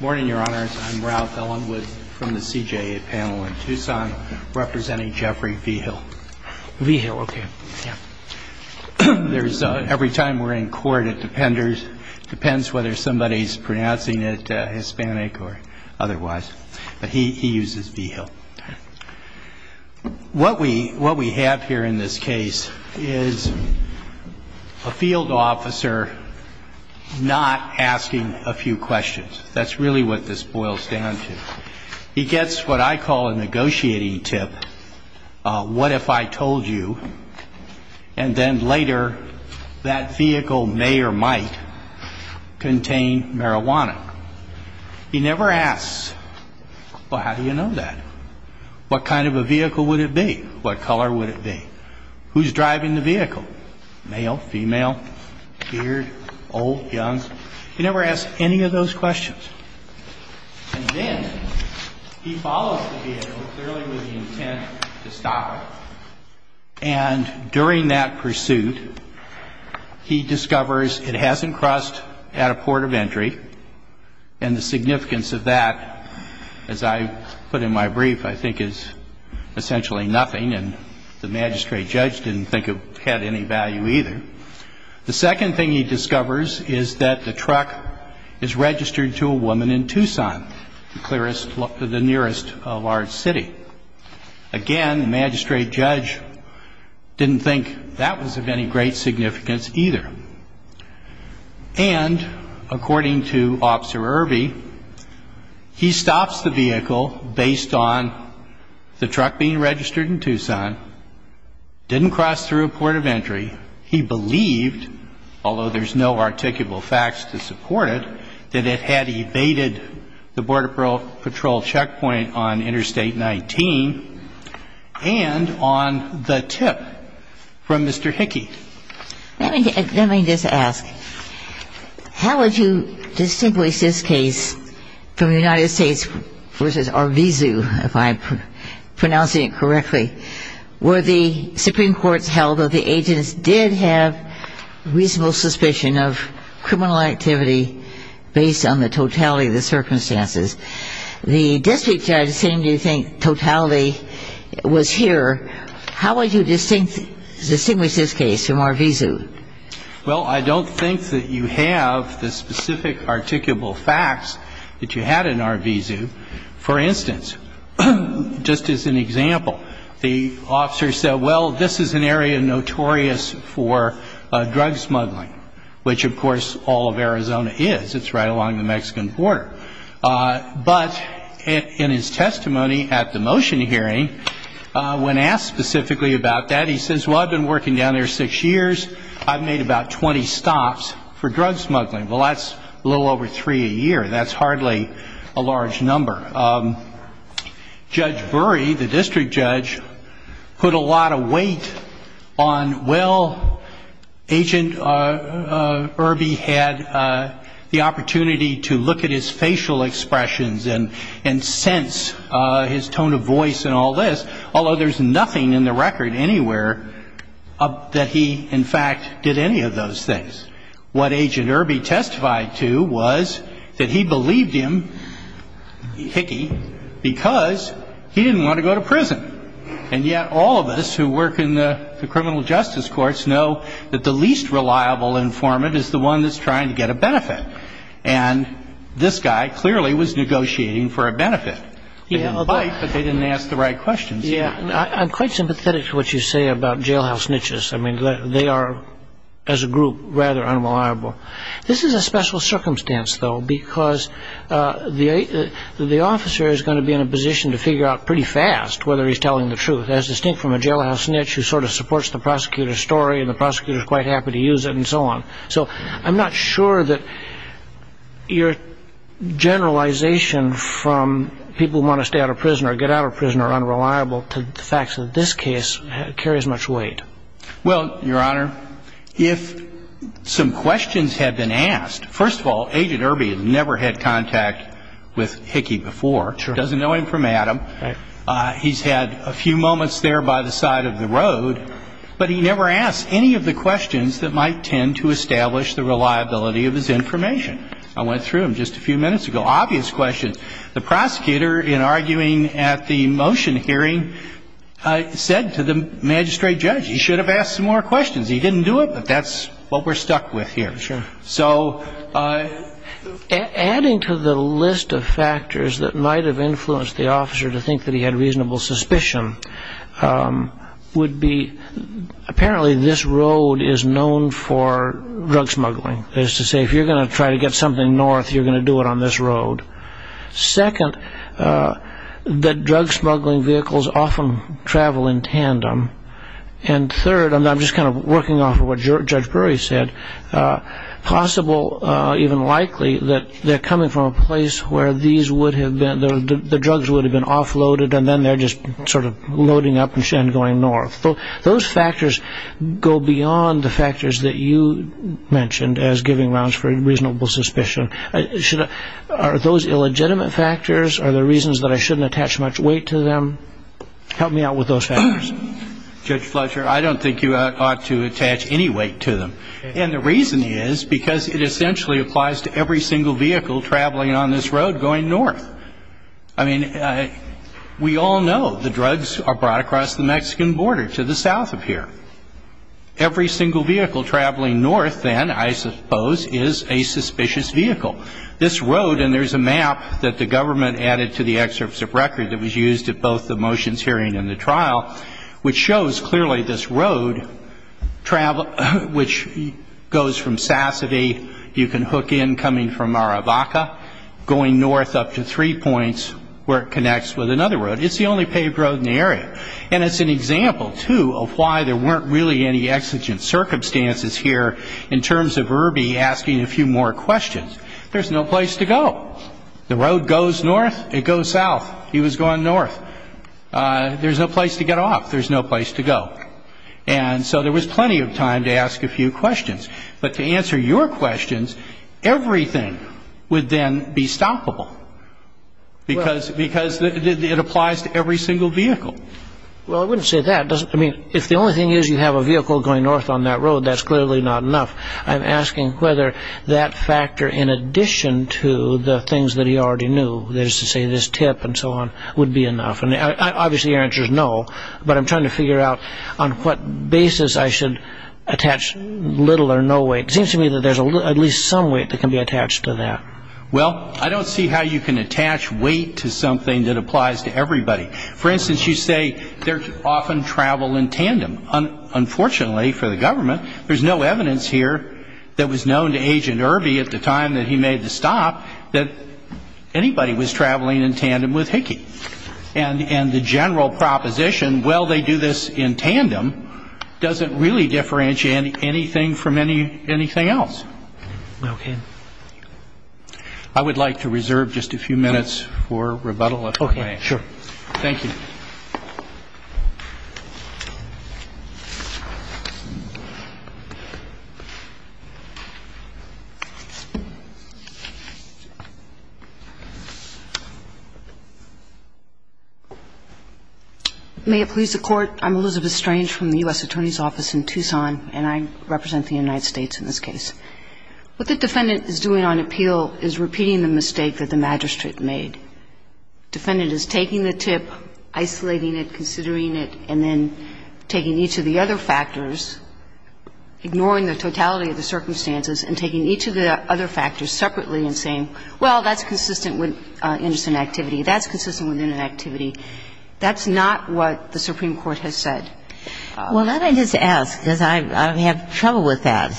Morning, Your Honors. I'm Ralph Ellenwood from the CJA panel in Tucson representing Jeffrey Vigil. Vigil, okay. Yeah. Every time we're in court, it depends whether somebody's pronouncing it Hispanic or otherwise. But he uses Vigil. Okay. What we have here in this case is a field officer not asking a few questions. That's really what this boils down to. He gets what I call a negotiating tip, what if I told you, and then later that vehicle may or might contain marijuana. He never asks, well, how do you know that? What kind of a vehicle would it be? What color would it be? Who's driving the vehicle? Male, female, geared, old, young? He never asks any of those questions. And then he follows the vehicle clearly with the intent to stop it. And during that pursuit, he discovers it hasn't crossed at a port of entry. And the significance of that, as I put in my brief, I think is essentially nothing. And the magistrate judge didn't think it had any value either. The second thing he discovers is that the truck is registered to a woman in Tucson, the nearest large city. Again, the magistrate judge didn't think that was of any great significance either. And according to Officer Irby, he stops the vehicle based on the truck being registered in Tucson, didn't cross through a port of entry. He believes, although there's no articulable facts to support it, that it had evaded the Border Patrol checkpoint on Interstate 19 and on the tip from Mr. Hickey. Let me just ask, how would you distinguish this case from the United States v. Arvizu, if I'm pronouncing it correctly? Where the Supreme Court's held that the agents did have reasonable suspicion of criminal activity based on the totality of the circumstances. The district judge seemed to think totality was here. How would you distinguish this case from Arvizu? Well, I don't think that you have the specific articulable facts that you had in Arvizu. For instance, just as an example, the officer said, well, this is an area notorious for drug smuggling, which, of course, all of Arizona is. It's right along the Mexican border. But in his testimony at the motion hearing, when asked specifically about that, he says, well, I've been working down there six years. I've made about 20 stops for drug smuggling. Well, that's a little over three a year. That's hardly a large number. Judge Burry, the district judge, put a lot of weight on, well, Agent Irby had the opportunity to look at his facial expressions and sense his tone of voice and all this, although there's nothing in the record anywhere that he, in fact, did any of those things. What Agent Irby testified to was that he believed him, Hickey, because he didn't want to go to prison. And yet all of us who work in the criminal justice courts know that the least reliable informant is the one that's trying to get a benefit. And this guy clearly was negotiating for a benefit. He didn't bite, but they didn't ask the right questions. I'm quite sympathetic to what you say about jailhouse niches. I mean, they are, as a group, rather unreliable. This is a special circumstance, though, because the officer is going to be in a position to figure out pretty fast whether he's telling the truth, as distinct from a jailhouse niche who sort of supports the prosecutor's story and the prosecutor's quite happy to use it and so on. So I'm not sure that your generalization from people who want to stay out of prison or get out of prison are unreliable to the fact that this case carries much weight. Well, Your Honor, if some questions had been asked, first of all, Agent Irby has never had contact with Hickey before, doesn't know him from Adam. Right. He's had a few moments there by the side of the road, but he never asked any of the questions that might tend to establish the reliability of his information. I went through them just a few minutes ago, obvious questions. The prosecutor, in arguing at the motion hearing, said to the magistrate judge, he should have asked some more questions. He didn't do it, but that's what we're stuck with here. Sure. So adding to the list of factors that might have influenced the officer to think that he had reasonable suspicion would be, apparently this road is known for drug smuggling. That is to say, if you're going to try to get something north, you're going to do it on this road. Second, that drug smuggling vehicles often travel in tandem. And third, and I'm just kind of working off of what Judge Brewery said, possible, even likely, that they're coming from a place where the drugs would have been offloaded and then they're just sort of loading up and going north. Those factors go beyond the factors that you mentioned as giving grounds for reasonable suspicion. Are those illegitimate factors? Are there reasons that I shouldn't attach much weight to them? Help me out with those factors. Judge Fletcher, I don't think you ought to attach any weight to them. And the reason is because it essentially applies to every single vehicle traveling on this road going north. I mean, we all know the drugs are brought across the Mexican border to the south of here. Every single vehicle traveling north then, I suppose, is a suspicious vehicle. This road, and there's a map that the government added to the excerpts of record that was used at both the motions hearing and the trial, which shows clearly this road, which goes from Sassody, you can hook in coming from Maravaca, going north up to three points where it connects with another road. It's the only paved road in the area. And it's an example, too, of why there weren't really any exigent circumstances here in terms of Irby asking a few more questions. There's no place to go. The road goes north, it goes south. He was going north. There's no place to get off. There's no place to go. And so there was plenty of time to ask a few questions. But to answer your questions, everything would then be stoppable because it applies to every single vehicle. Well, I wouldn't say that. I mean, if the only thing is you have a vehicle going north on that road, that's clearly not enough. I'm asking whether that factor, in addition to the things that he already knew, that is to say this tip and so on, would be enough. Obviously your answer is no, but I'm trying to figure out on what basis I should attach little or no weight. It seems to me that there's at least some weight that can be attached to that. Well, I don't see how you can attach weight to something that applies to everybody. For instance, you say they often travel in tandem. Unfortunately for the government, there's no evidence here that was known to Agent Irby at the time that he made the stop that anybody was traveling in tandem with Hickey. And the general proposition, well, they do this in tandem, doesn't really differentiate anything from anything else. Okay. I would like to reserve just a few minutes for rebuttal if I may. Okay. Sure. Thank you. May it please the Court. I'm Elizabeth Strange from the U.S. Attorney's Office in Tucson, and I represent the United States in this case. What the defendant is doing on appeal is repeating the mistake that the magistrate made. Defendant is taking the tip, isolating it, considering it, and then taking each of the other factors, ignoring the totality of the circumstances, and taking each of the other factors separately and saying, Well, that's consistent with innocent activity. That's consistent with inactivity. That's not what the Supreme Court has said. Well, let me just ask, because I have trouble with that.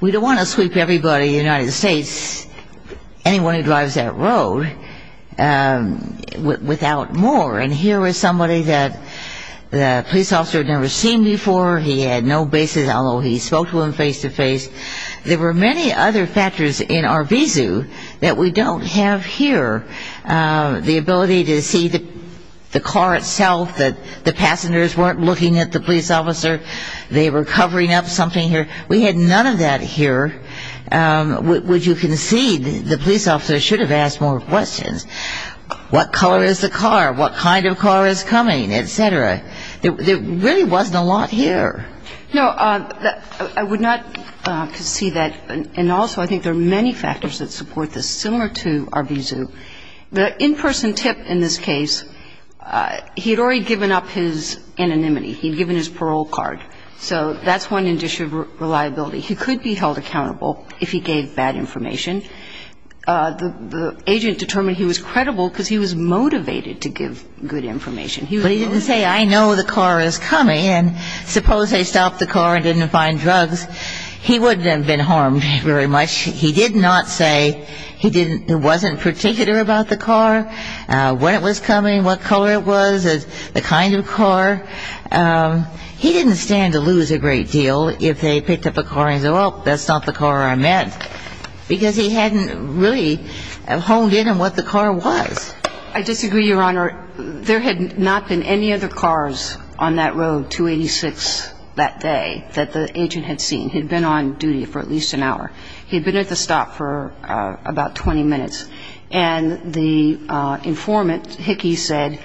We don't want to sweep everybody in the United States, anyone who drives that road, without more. And here was somebody that the police officer had never seen before. He had no basis, although he spoke to him face to face. There were many other factors in Arvizu that we don't have here. The ability to see the car itself, that the passengers weren't looking at the police officer. They were covering up something here. We had none of that here. Would you concede the police officer should have asked more questions? What color is the car? What kind of car is coming? Et cetera. There really wasn't a lot here. No. I would not concede that. And also, I think there are many factors that support this, similar to Arvizu. The in-person tip in this case, he had already given up his anonymity. He had given his parole card. So that's one indicia of reliability. He could be held accountable if he gave bad information. The agent determined he was credible because he was motivated to give good information. But he didn't say, I know the car is coming. And suppose they stopped the car and didn't find drugs. He wouldn't have been harmed very much. He did not say he didn't ñ he wasn't particular about the car, when it was coming, what color it was, the kind of car. He didn't stand to lose a great deal if they picked up a car and said, well, that's not the car I meant. Because he hadn't really honed in on what the car was. I disagree, Your Honor. There had not been any other cars on that road, 286, that day that the agent had seen. He had been on duty for at least an hour. He had been at the stop for about 20 minutes. And the informant, Hickey, said,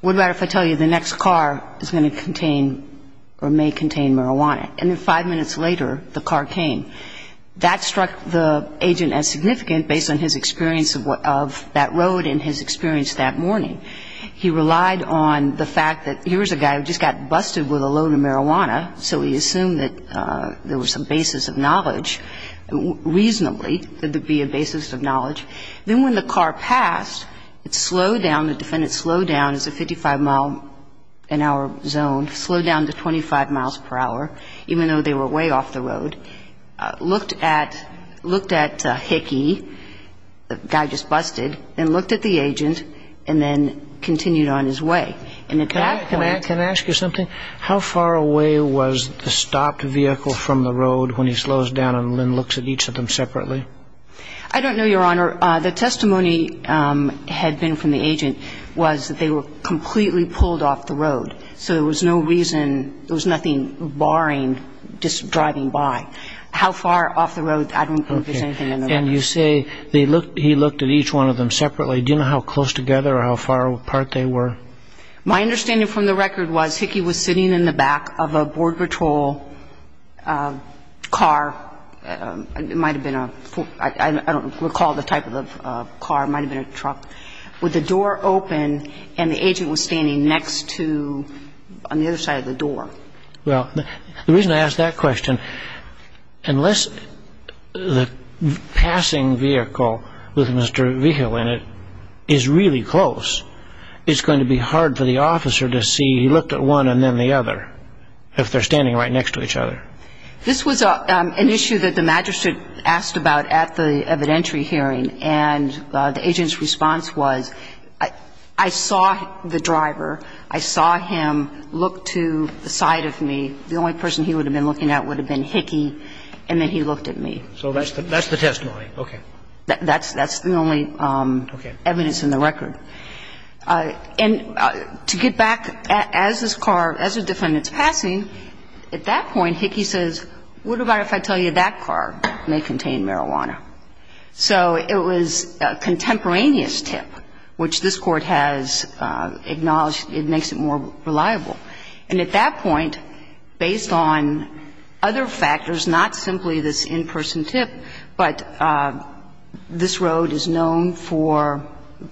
what about if I tell you the next car is going to contain or may contain marijuana. And then five minutes later, the car came. That struck the agent as significant based on his experience of what ñ of that road and his experience that morning. He relied on the fact that here was a guy who just got busted with a loan of marijuana, so he assumed that there was some basis of knowledge. Reasonably, there would be a basis of knowledge. Then when the car passed, it slowed down. The defendant slowed down. It's a 55-mile-an-hour zone, slowed down to 25 miles per hour, even though they were way off the road. Looked at Hickey, the guy just busted, and looked at the agent, and then continued on his way. And at that point ñ Can I ask you something? How far away was the stopped vehicle from the road when he slows down and then looks at each of them separately? I don't know, Your Honor. The testimony had been from the agent was that they were completely pulled off the road. So there was no reason ñ there was nothing barring just driving by. How far off the road, I don't think there's anything in the record. And you say he looked at each one of them separately. Do you know how close together or how far apart they were? My understanding from the record was Hickey was sitting in the back of a Border Patrol car. It might have been a ñ I don't recall the type of the car. It might have been a truck. With the door open and the agent was standing next to ñ on the other side of the door. Well, the reason I ask that question, unless the passing vehicle with Mr. Vigil in it is really close, it's going to be hard for the officer to see he looked at one and then the other, if they're standing right next to each other. This was an issue that the magistrate asked about at the evidentiary hearing. And the agent's response was, I saw the driver. I saw him look to the side of me. The only person he would have been looking at would have been Hickey. And then he looked at me. So that's the testimony. Okay. That's the only evidence in the record. Okay. And to get back, as this car ñ as a defendant's passing, at that point, Hickey says, what about if I tell you that car may contain marijuana? So it was a contemporaneous tip, which this Court has acknowledged it makes it more reliable. And at that point, based on other factors, not simply this in-person tip, but this road is known for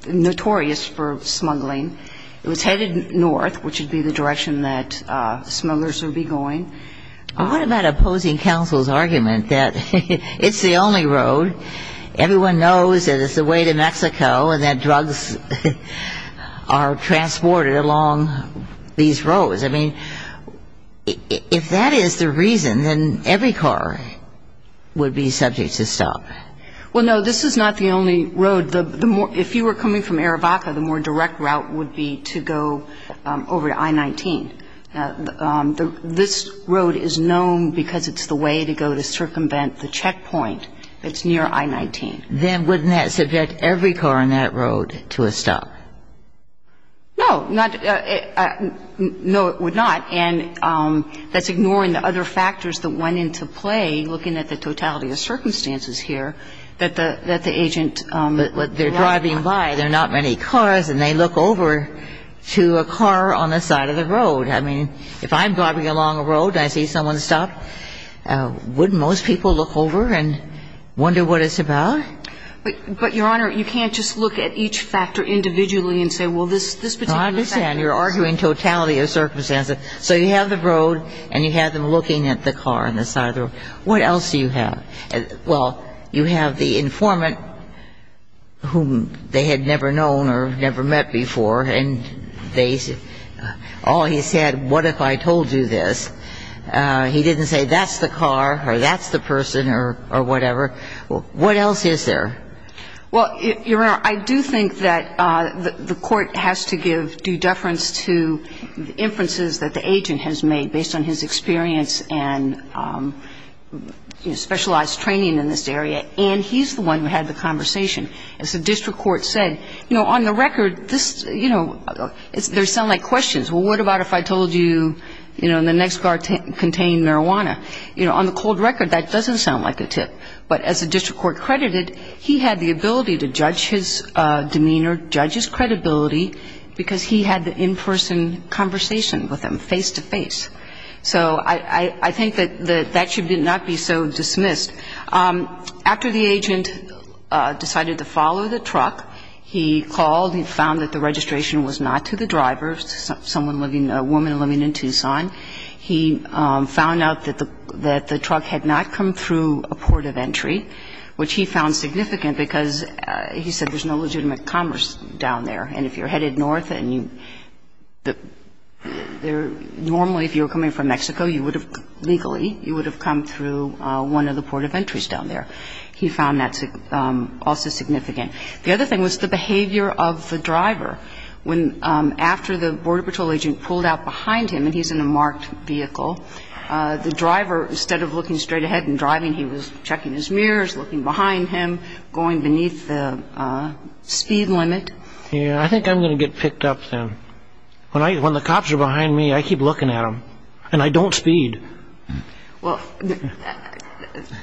ñ notorious for smuggling. It was headed north, which would be the direction that smugglers would be going. What about opposing counsel's argument that it's the only road, everyone knows that it's the way to Mexico and that drugs are transported along these roads? I mean, if that is the reason, then every car would be subject to stop. Well, no. This is not the only road. The more ñ if you were coming from Arivaca, the more direct route would be to go over to I-19. This road is known because it's the way to go to circumvent the checkpoint that's near I-19. Then wouldn't that subject every car on that road to a stop? No. Not ñ no, it would not. And that's ignoring the other factors that went into play, looking at the totality of circumstances here that the agent ñ But they're driving by, there are not many cars, and they look over to a car on the side of the road. I mean, if I'm driving along a road and I see someone stop, wouldn't most people look over and wonder what it's about? But, Your Honor, you can't just look at each factor individually and say, well, this particular factor ñ I understand. You're arguing totality of circumstances. So you have the road and you have them looking at the car on the side of the road. What else do you have? Well, you have the informant, whom they had never known or never met before, and they said, oh, he said, what if I told you this? He didn't say, that's the car or that's the person or whatever. What else is there? Well, Your Honor, I do think that the court has to give due deference to inferences that the agent has made based on his experience and specialized training in this area, and he's the one who had the conversation. As the district court said, you know, on the record, this, you know, there sound like questions. Well, what about if I told you, you know, the next car contained marijuana? You know, on the cold record, that doesn't sound like a tip. But as the district court credited, he had the ability to judge his demeanor, judge his So I think that that should not be so dismissed. After the agent decided to follow the truck, he called and found that the registration was not to the driver, someone living, a woman living in Tucson. He found out that the truck had not come through a port of entry, which he found significant because he said there's no legitimate commerce down there, and if you're normally, if you were coming from Mexico, you would have legally, you would have come through one of the port of entries down there. He found that also significant. The other thing was the behavior of the driver. After the Border Patrol agent pulled out behind him, and he's in a marked vehicle, the driver, instead of looking straight ahead and driving, he was checking his mirrors, looking behind him, going beneath the speed limit. Yeah, I think I'm going to get picked up then. When the cops are behind me, I keep looking at them, and I don't speed. Well,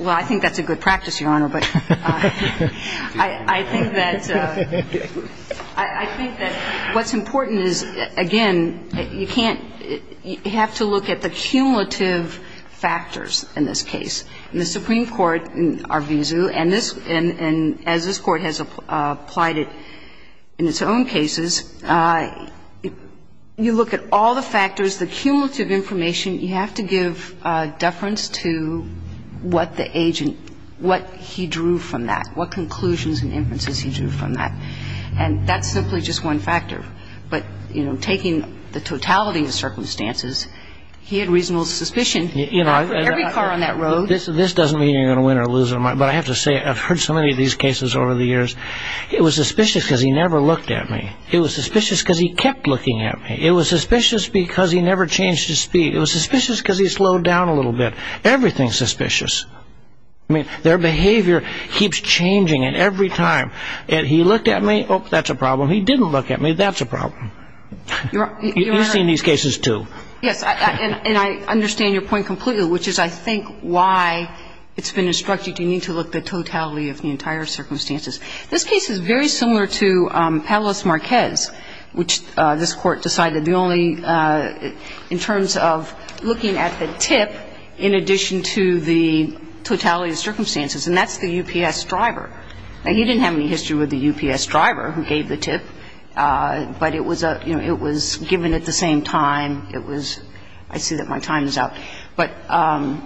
I think that's a good practice, Your Honor, but I think that what's important is, again, you can't, you have to look at the cumulative factors in this case. In the Supreme Court, in Arvizu, and as this Court has applied it in its own cases, you look at all the factors, the cumulative information. You have to give deference to what the agent, what he drew from that, what conclusions and inferences he drew from that. And that's simply just one factor. But, you know, taking the totality of the circumstances, he had reasonable suspicion. Every car on that road. This doesn't mean you're going to win or lose, but I have to say I've heard so many of these cases over the years. It was suspicious because he never looked at me. It was suspicious because he kept looking at me. It was suspicious because he never changed his speed. It was suspicious because he slowed down a little bit. Everything's suspicious. I mean, their behavior keeps changing, and every time he looked at me, oh, that's a problem. He didn't look at me, that's a problem. You've seen these cases, too. Yes, and I understand your point completely, which is, I think, why it's been instructed you need to look at totality of the entire circumstances. This case is very similar to Palos Marquez, which this Court decided the only – in terms of looking at the tip in addition to the totality of the circumstances, and that's the UPS driver. Now, he didn't have any history with the UPS driver who gave the tip, but it was a – you know, it was given at the same time. It was – I see that my time is up. But I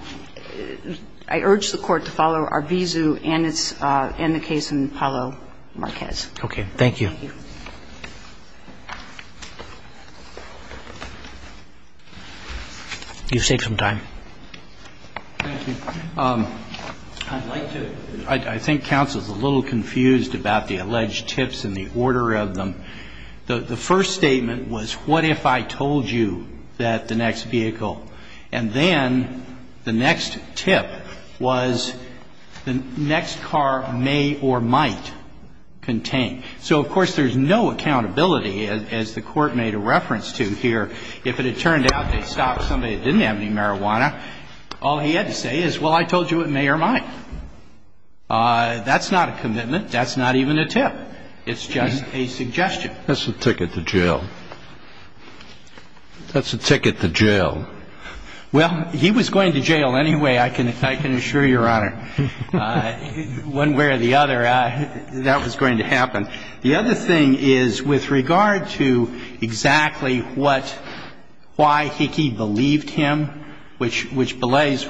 urge the Court to follow Arvizu and its – and the case in Palos Marquez. Okay. Thank you. Thank you. You've saved some time. Thank you. I'd like to – I think counsel's a little confused about the alleged tips and the order of them. The first statement was, what if I told you that the next vehicle – and then the next tip was the next car may or might contain. So, of course, there's no accountability, as the Court made a reference to here. If it had turned out they stopped somebody that didn't have any marijuana, all he had to say is, well, I told you it may or might. That's not a commitment. That's not even a tip. It's just a suggestion. That's a ticket to jail. That's a ticket to jail. Well, he was going to jail anyway, I can assure Your Honor. One way or the other, that was going to happen. The other thing is, with regard to exactly what – why Hickey believed him, which belays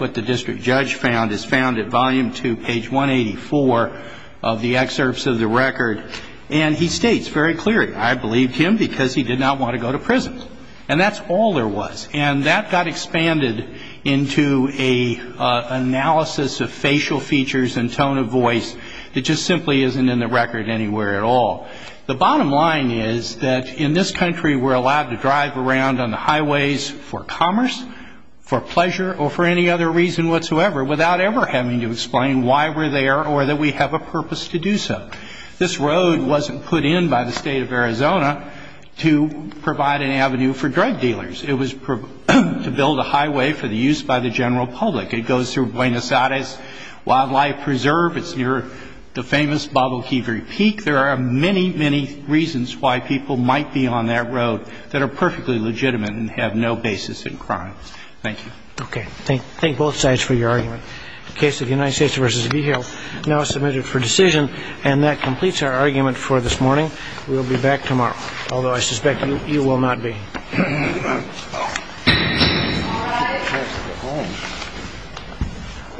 found is found at volume two, page 184 of the excerpts of the record. And he states very clearly, I believed him because he did not want to go to prison. And that's all there was. And that got expanded into an analysis of facial features and tone of voice that just simply isn't in the record anywhere at all. The bottom line is that in this country, we're allowed to drive around on the highways for commerce, for pleasure, or for any other reason whatsoever without ever having to explain why we're there or that we have a purpose to do so. This road wasn't put in by the State of Arizona to provide an avenue for drug dealers. It was to build a highway for the use by the general public. It goes through Buenos Aires Wildlife Preserve. It's near the famous Baboquivari Peak. There are many, many reasons why people might be on that road that are perfectly legitimate and have no basis in crime. Thank you. Okay. Thank both sides for your argument. The case of the United States v. Beale now is submitted for decision. And that completes our argument for this morning. We will be back tomorrow, although I suspect you will not be. All right. Time to go home.